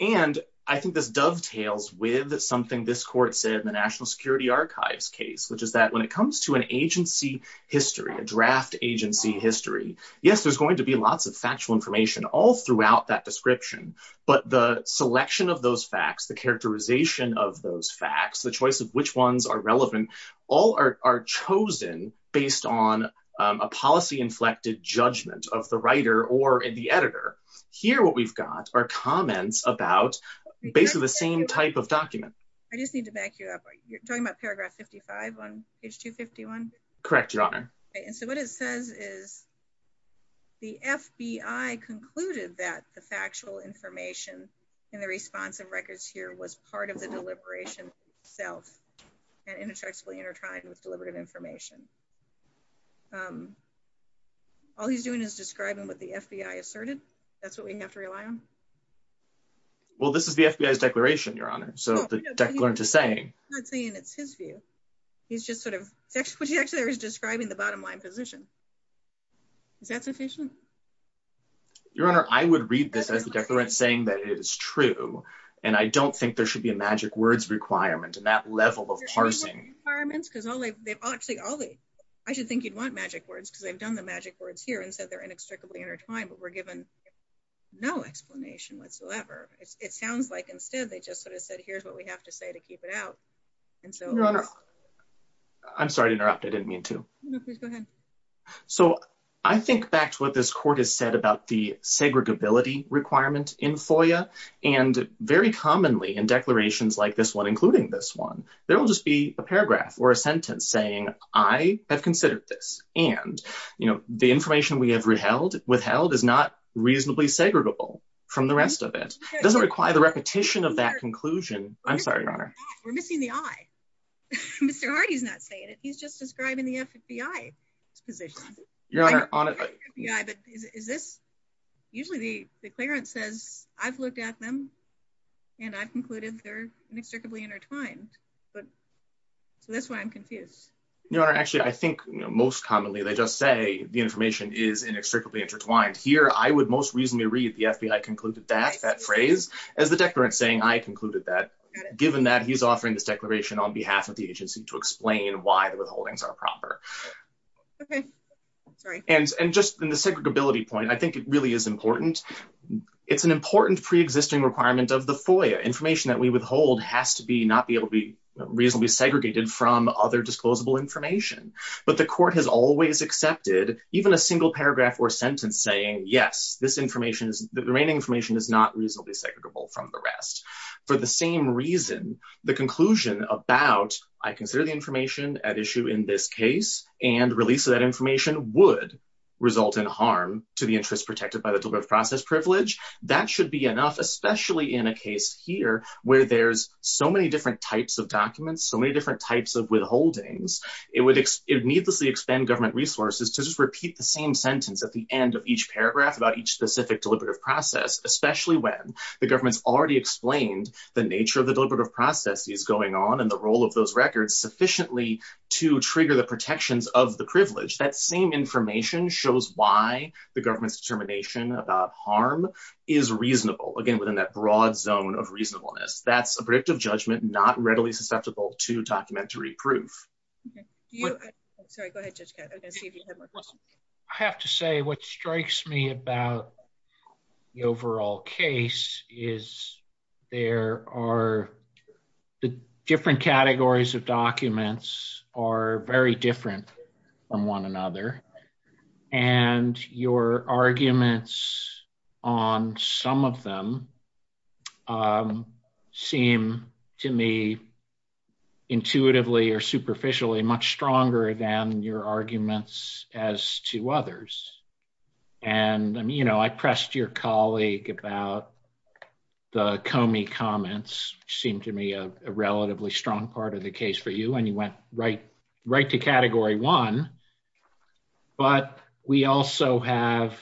and i think this dovetails with something this court said in the national archives case which is that when it comes to an agency history a draft agency history yes there's going to be lots of factual information all throughout that description but the selection of those facts the characterization of those facts the choice of which ones are relevant all are chosen based on a policy inflected judgment of the writer or the editor here what comments about basically the same type of document i just need to back you up you're talking about paragraph 55 on page 251 correct your honor okay and so what it says is the fbi concluded that the factual information in the responsive records here was part of the deliberation itself and inextricably intertwined with deliberative information um all he's doing is describing what the fbi asserted that's what we have to rely on well this is the fbi's declaration your honor so the declarant is saying i'm not saying it's his view he's just sort of it's actually what he actually was describing the bottom line position is that sufficient your honor i would read this as the declarant saying that it is true and i don't think there should be a magic words requirement in that level of parsing requirements because all they've actually all the i should think you'd want magic words because they've done the magic words here and said they're inextricably intertwined but we're given no explanation whatsoever it sounds like instead they just sort of said here's what we have to say to keep it out and so i'm sorry to interrupt i didn't mean to please go ahead so i think back to what this court has said about the segregability requirement in foia and very commonly in saying i have considered this and you know the information we have reheld withheld is not reasonably segregable from the rest of it doesn't require the repetition of that conclusion i'm sorry your honor we're missing the eye mr hardy's not saying it he's just describing the fbi position your honor on it yeah but is this usually the declarant says i've looked at them and i've concluded they're inextricably intertwined but so that's why i'm confused your honor actually i think most commonly they just say the information is inextricably intertwined here i would most reasonably read the fbi concluded that that phrase as the declarant saying i concluded that given that he's offering this declaration on behalf of the agency to explain why the withholdings are proper okay sorry and and just in the segregability point i think it important pre-existing requirement of the foia information that we withhold has to be not be able to be reasonably segregated from other disclosable information but the court has always accepted even a single paragraph or sentence saying yes this information is the remaining information is not reasonably segregable from the rest for the same reason the conclusion about i consider the information at issue in this case and release of that information would result in harm to the enough especially in a case here where there's so many different types of documents so many different types of withholdings it would it needlessly expand government resources to just repeat the same sentence at the end of each paragraph about each specific deliberative process especially when the government's already explained the nature of the deliberative process is going on and the role of those records sufficiently to trigger the protections of the privilege that same information shows why the government's determination about harm is reasonable again within that broad zone of reasonableness that's a predictive judgment not readily susceptible to documentary proof sorry go ahead judge i have to say what strikes me about the overall case is there are the different categories of documents are very different from one another and your arguments on some of them seem to me intuitively or superficially much stronger than your arguments as to others and you know i pressed your colleague about the comey comments seemed to me a relatively strong part of the case for you and you went right right to category one but we also have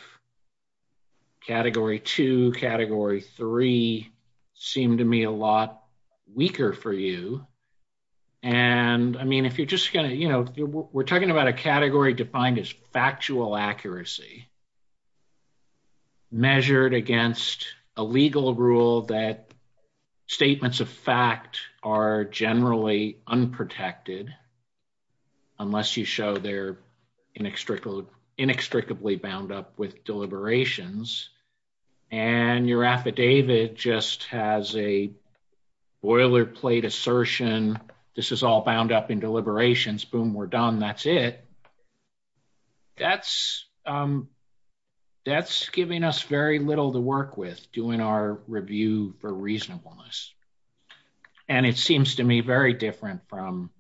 category two category three seem to me a lot weaker for you and i mean if you're just gonna you know we're talking about a category defined as factual accuracy measured against a legal rule that statements of fact are generally unprotected unless you show they're inextricably inextricably bound up with deliberations and your affidavit just has a boilerplate assertion this is all bound up in deliberations boom we're done that's it that's um that's giving us very little to work with doing our review for reasonableness and it seems to me very different from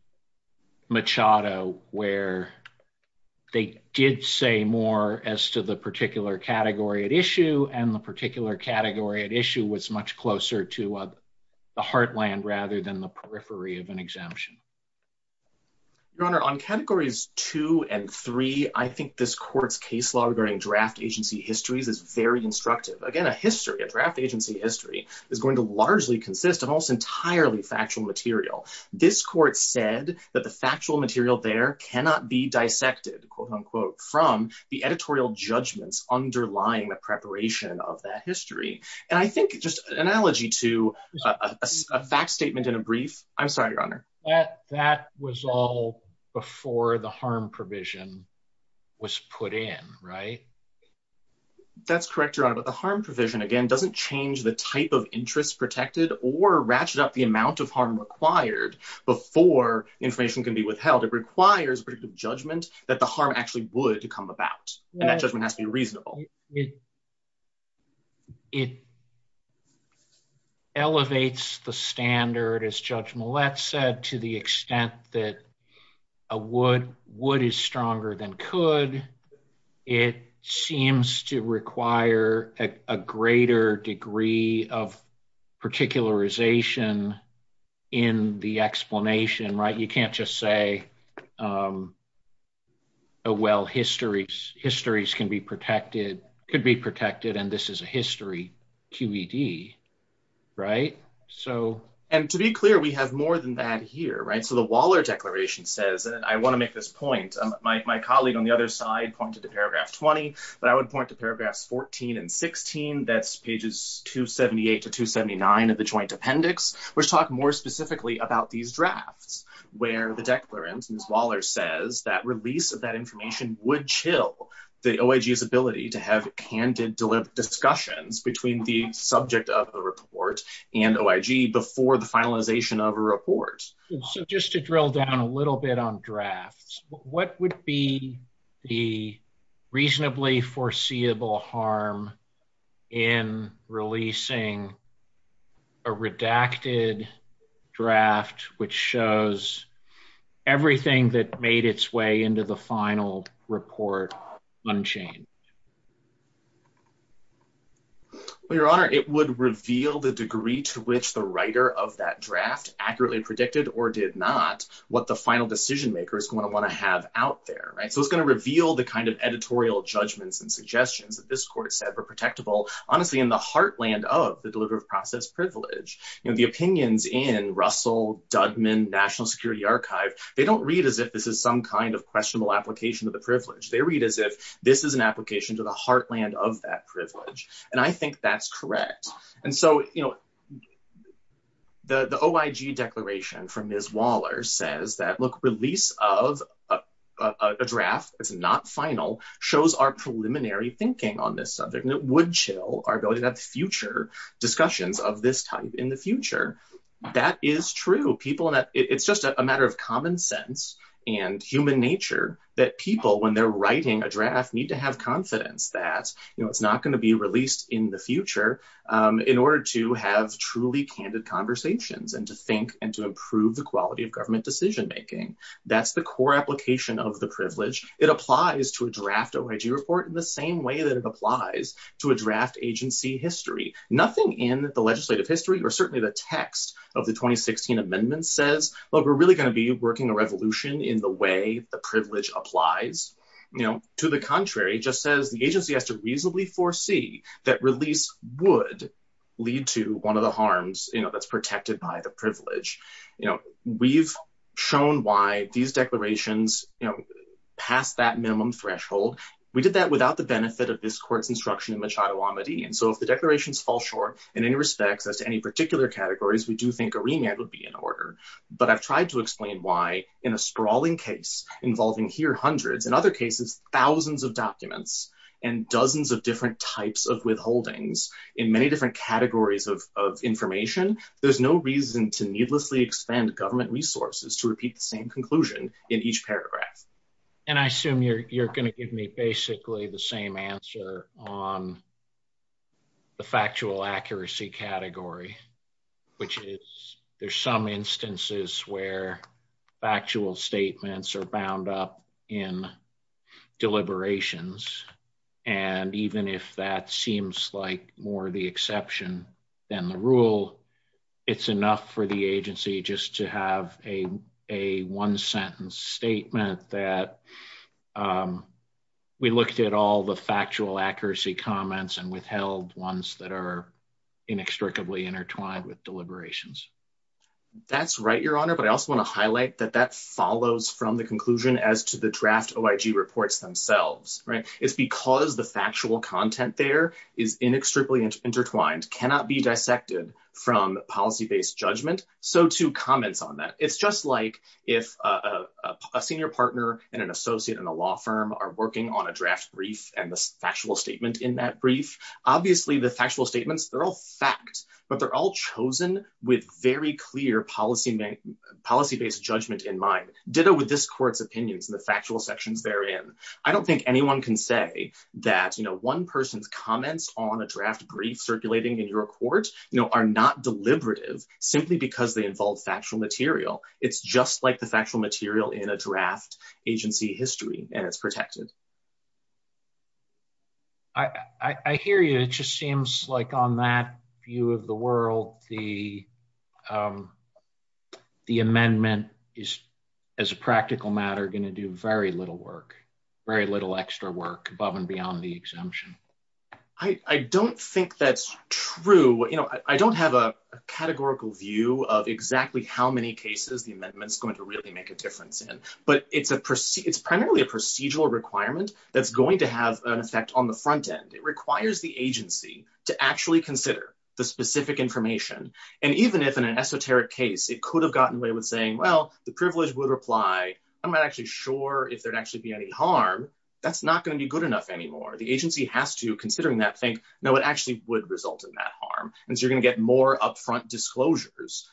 machado where they did say more as to the particular category at issue and the particular category at issue was much closer to the heartland rather than the periphery of an exemption your honor on categories two and three i think this court's case law regarding draft agency histories is very instructive again a history a draft agency history is going to largely consist of almost entirely factual material this court said that the factual material there cannot be dissected quote unquote from the editorial judgments underlying the preparation of that history and i think just analogy to a fact statement in a brief i'm sorry your honor that that was all before the harm provision was put in right that's correct your honor but the harm provision again doesn't change the type of interest protected or ratchet up the amount of harm required before information can be withheld it requires predictive judgment that the harm actually would come about and that judgment has to be reasonable it it elevates the standard as judge mullet said to the extent that a wood wood is stronger than could it seems to require a greater degree of particularization in the explanation right you can't just say um oh well histories histories can be protected could be protected and this is a history qed right so and to be clear we have more than that here right so the waller declaration says i want to make this point my colleague on the other side pointed to paragraph 20 but i would point to paragraphs 14 and 16 that's pages 278 to 279 of the joint appendix which talk more specifically about these drafts where the declarant ms waller says that release of that information would chill the oig's ability to have candid discussions between the subject of the report and oig before the finalization of a report so just to drill down a little bit on drafts what would be the reasonably foreseeable harm in releasing a redacted draft which shows everything that made its way into the final report unchanged well your honor it would reveal the degree to which the writer of that draft accurately predicted or did not what the final decision maker is going to want to have out there right so it's going to reveal the kind of editorial judgments and suggestions that this court said were protectable honestly in the heartland of the deliver of process privilege you know the archive they don't read as if this is some kind of questionable application of the privilege they read as if this is an application to the heartland of that privilege and i think that's correct and so you know the the oig declaration from ms waller says that look release of a draft it's not final shows our preliminary thinking on this subject and it would chill our ability to have future discussions of this type in the future that is true people that it's just a matter of common sense and human nature that people when they're writing a draft need to have confidence that you know it's not going to be released in the future in order to have truly candid conversations and to think and to improve the quality of government decision making that's the core application of the privilege it applies to a draft oig report in the same way that it applies to a draft agency history nothing in the legislative history or certainly the text of the 2016 amendment says well we're really going to be working a revolution in the way the privilege applies you know to the contrary just says the agency has to reasonably foresee that release would lead to one of the harms you know that's protected by the privilege you know we've shown why these declarations you know past that minimum threshold we did that without the benefit of this court's instruction in machado amity and so if the declarations fall short in any respects as to any particular categories we do think a remand would be in order but i've tried to explain why in a sprawling case involving here hundreds in other cases thousands of documents and dozens of different types of withholdings in many different categories of of information there's no reason to needlessly expand government resources to repeat the same in each paragraph and i assume you're you're going to give me basically the same answer on the factual accuracy category which is there's some instances where factual statements are bound up in deliberations and even if that seems like more the exception than the rule it's enough for the agency just to have a a one sentence statement that we looked at all the factual accuracy comments and withheld ones that are inextricably intertwined with deliberations that's right your honor but i also want to highlight that that follows from the conclusion as to the draft oig reports themselves right it's because the factual content there is inextricably intertwined cannot be dissected from policy-based judgment so to comments on that it's just like if a senior partner and an associate in a law firm are working on a draft brief and the factual statement in that brief obviously the factual statements they're all fact but they're all chosen with very clear policy policy-based judgment in mind ditto with this court's opinions and the factual sections therein i don't think anyone can say that you know one person's comments on a draft brief circulating in your court you know are not deliberative simply because they involve factual material it's just like the factual material in a draft agency history and it's protected i i hear you it just seems like on that view of the world the um the amendment is as a practical matter going to do very little work very little extra work above and beyond the exemption i i don't think that's true you know i don't have a categorical view of exactly how many cases the amendment's going to really make a difference in but it's a proceed it's primarily a procedural requirement that's going to have an effect on the front end it requires the agency to actually consider the specific information and even if in an esoteric case it could have gotten away with well the privilege would reply i'm not actually sure if there'd actually be any harm that's not going to be good enough anymore the agency has to considering that think no it actually would result in that harm and so you're going to get more upfront disclosures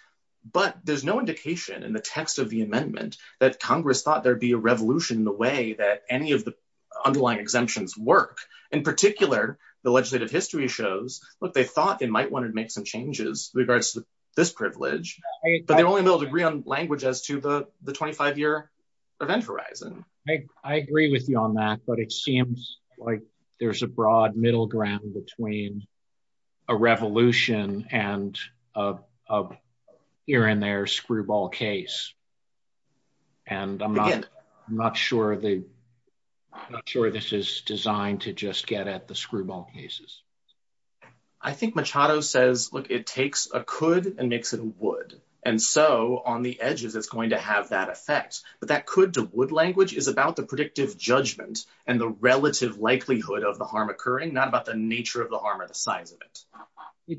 but there's no indication in the text of the amendment that congress thought there'd be a revolution in the way that any of the underlying exemptions work in particular the legislative history shows look they thought they might want to make some changes regards to this privilege but they're only able to agree on language as to the the 25-year event horizon i agree with you on that but it seems like there's a broad middle ground between a revolution and a here and there screwball case and i'm not i'm not sure the i'm not sure this is designed to just get at the screwball cases i think machado says look it takes a could and makes it a wood and so on the edges it's going to have that effect but that could to wood language is about the predictive judgment and the relative likelihood of the harm occurring not about the nature of the harm or the size of it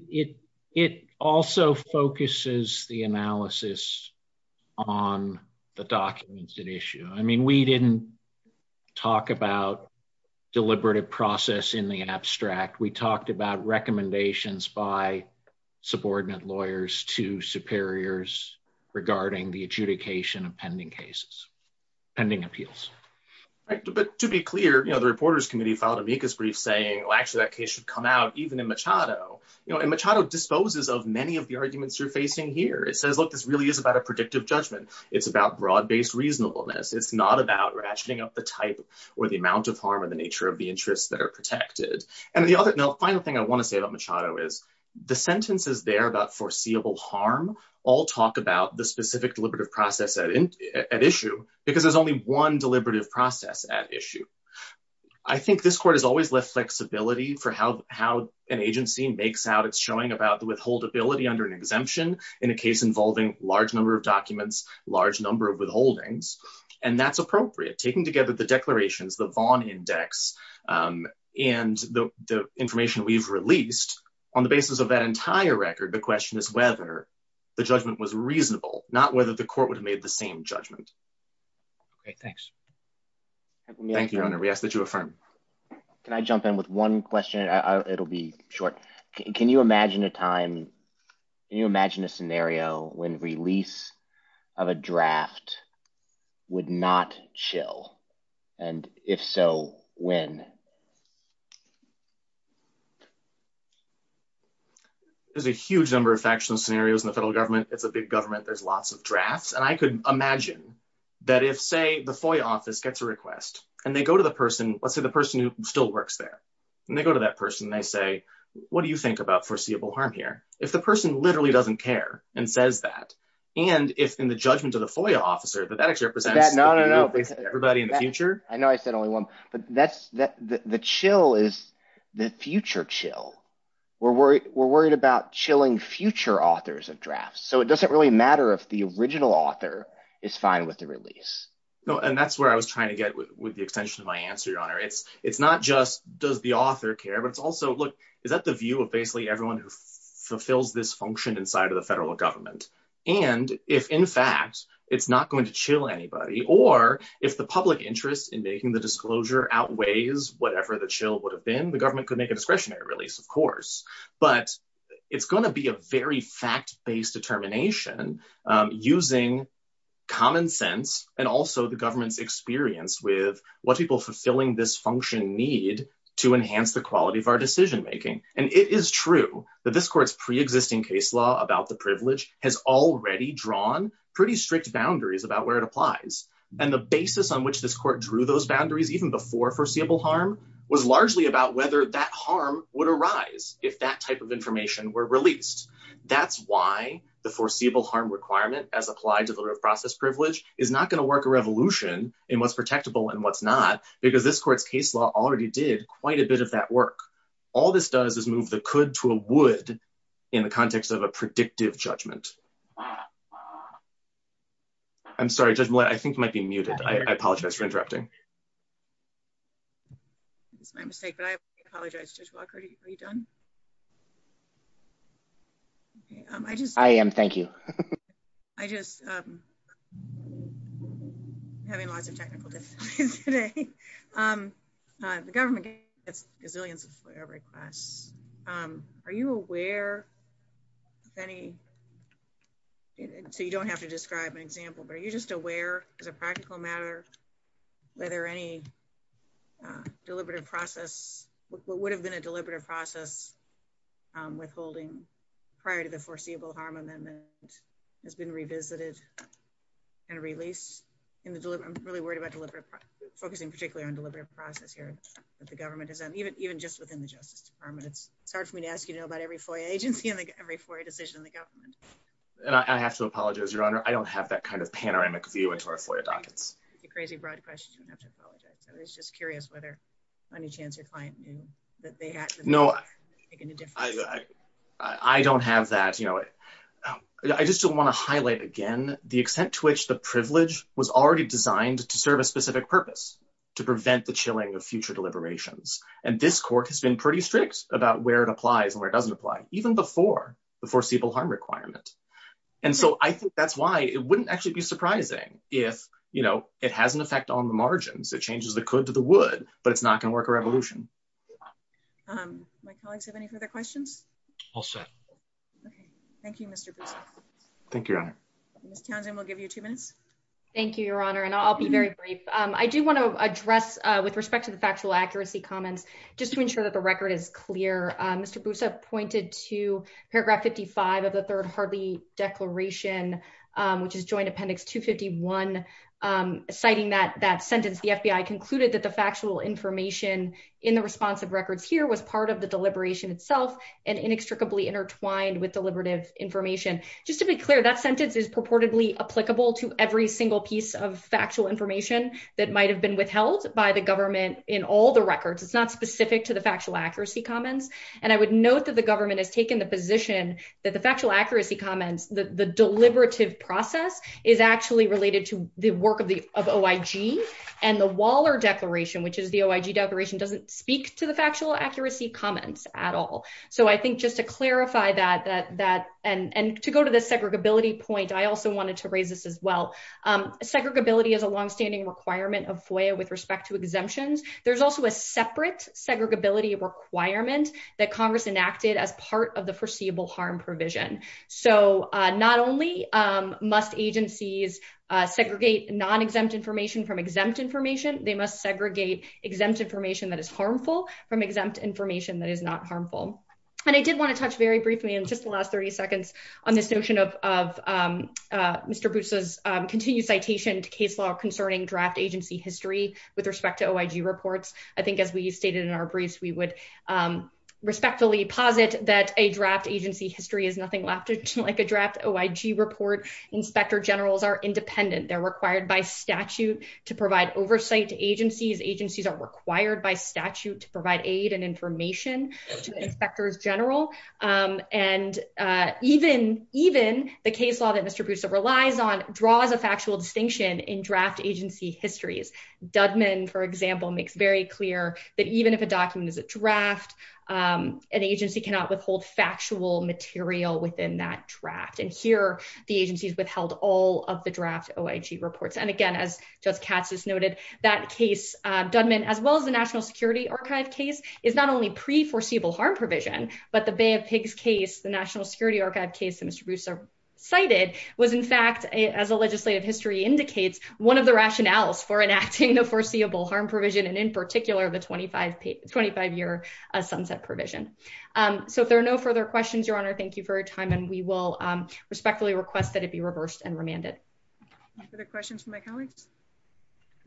it it also focuses the analysis on the documents at issue i mean we didn't talk about deliberative process in the subordinate lawyers to superiors regarding the adjudication of pending cases pending appeals right but to be clear you know the reporters committee filed amicus brief saying well actually that case should come out even in machado you know and machado disposes of many of the arguments you're facing here it says look this really is about a predictive judgment it's about broad-based reasonableness it's not about ratcheting up the type or the amount of harm and the nature of the interests that are protected and the other final thing i want to say about machado is the sentences there about foreseeable harm all talk about the specific deliberative process at issue because there's only one deliberative process at issue i think this court has always left flexibility for how how an agency makes out it's showing about the withhold ability under an exemption in a case involving large number of documents large number of withholdings and that's appropriate taking together the declarations the vaughn index um and the the information we've released on the basis of that entire record the question is whether the judgment was reasonable not whether the court would have made the same judgment okay thanks thank you we ask that you affirm can i jump in with one question it'll be short can you imagine a time can you imagine a scenario when release of a draft would not chill and if so when there's a huge number of factual scenarios in the federal government it's a big government there's lots of drafts and i could imagine that if say the foy office gets a request and they go to the person let's say the person who still works there and they go to that person they say what do you think about foreseeable harm here if the person literally doesn't care and says that and if in the judgment of the FOIA officer that that actually represents everybody in the future i know i said only one but that's that the chill is the future chill we're worried we're worried about chilling future authors of drafts so it doesn't really matter if the original author is fine with the release no and that's where i was trying to get with the extension of my answer your honor it's not just does the author care but it's also look is that the view of basically everyone who fulfills this function inside of the federal government and if in fact it's not going to chill anybody or if the public interest in making the disclosure outweighs whatever the chill would have been the government could make a discretionary release of course but it's going to be a very fact-based determination using common sense and also the government's experience with what people fulfilling this function need to enhance the quality of our decision making and it is true that this court's pre-existing case law about the privilege has already drawn pretty strict boundaries about where it applies and the basis on which this court drew those boundaries even before foreseeable harm was largely about whether that harm would arise if that type of information were released that's why the foreseeable harm requirement as applied to the process privilege is not going to work a revolution in what's protectable and what's not because this court's case law already did quite a bit of that work all this does is move the could to a would in the context of a predictive judgment i'm sorry judge i think might be muted i apologize for interrupting that's my mistake but i apologize judge walker are you done i just i am thank you i just um having lots of technical difficulties today um uh the government gets gazillions of requests um are you aware of any so you don't have to describe an example but are you just aware as a practical matter whether any uh deliberative process what would have been a deliberative process um withholding prior to the foreseeable harm amendment has been revisited and released in the delivery i'm really worried about deliberate focusing particularly on deliberative process here that the government has done even even just within the justice department it's hard for me to ask you to know about every foyer agency and like every for a decision in the government and i have to apologize your honor i don't have that kind of panoramic view into our foyer dockets it's a crazy broad question i have to apologize i was just curious whether any chance your client knew that they had no i don't have that you know i just don't want to highlight again the extent to which the privilege was already designed to serve a specific purpose to prevent the chilling of future deliberations and this court has been pretty strict about where it applies and where it doesn't apply even before the foreseeable harm requirement and so i think that's why it wouldn't actually be surprising if you know it has an effect on the margins it changes the could to the would but it's not going to work a revolution um my colleagues have any further questions all set okay thank you mr thank you your honor miss townsend will give you two minutes thank you your honor and i'll be very brief um i do want to address uh with respect to the factual accuracy comments just to ensure that the record is clear uh mr busa pointed to paragraph 55 of the third harley declaration um which is joint appendix 251 um citing that that sentence the fbi concluded that the factual information in the response of records here was part of the deliberation itself and inextricably intertwined with deliberative information just to be clear that sentence is purportedly applicable to every single piece of factual information that might have been withheld by the government in all the records it's not specific to the factual accuracy comments and i would note that the government has taken the position that the factual accuracy comments the the deliberative process is actually related to the work of the of oig and the waller declaration which is the oig declaration doesn't speak to the factual accuracy comments at all so i think just to clarify that that that and and to go to the segregability point i also wanted to raise this as well um segregability is a long-standing requirement of foia with respect to exemptions there's also a separate segregability requirement that congress enacted as part of the harm provision so uh not only um must agencies uh segregate non-exempt information from exempt information they must segregate exempt information that is harmful from exempt information that is not harmful and i did want to touch very briefly in just the last 30 seconds on this notion of of mr busa's continued citation to case law concerning draft agency history with respect to agency history is nothing left like a draft oig report inspector generals are independent they're required by statute to provide oversight to agencies agencies are required by statute to provide aid and information to inspectors general um and uh even even the case law that mr bruce relies on draws a factual distinction in draft agency histories dudman for example makes very clear that even if a document is a draft um an agency cannot withhold factual material within that draft and here the agencies withheld all of the draft oig reports and again as judge katz has noted that case uh dudman as well as the national security archive case is not only pre-foreseeable harm provision but the bay of pigs case the national security archive case that mr busa cited was in fact as a legislative history indicates one of the rationales for enacting foreseeable harm provision and in particular the 25 25 year sunset provision um so if there are no further questions your honor thank you for your time and we will respectfully request that it be reversed and remanded other questions for my colleagues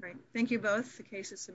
all right thank you both the case is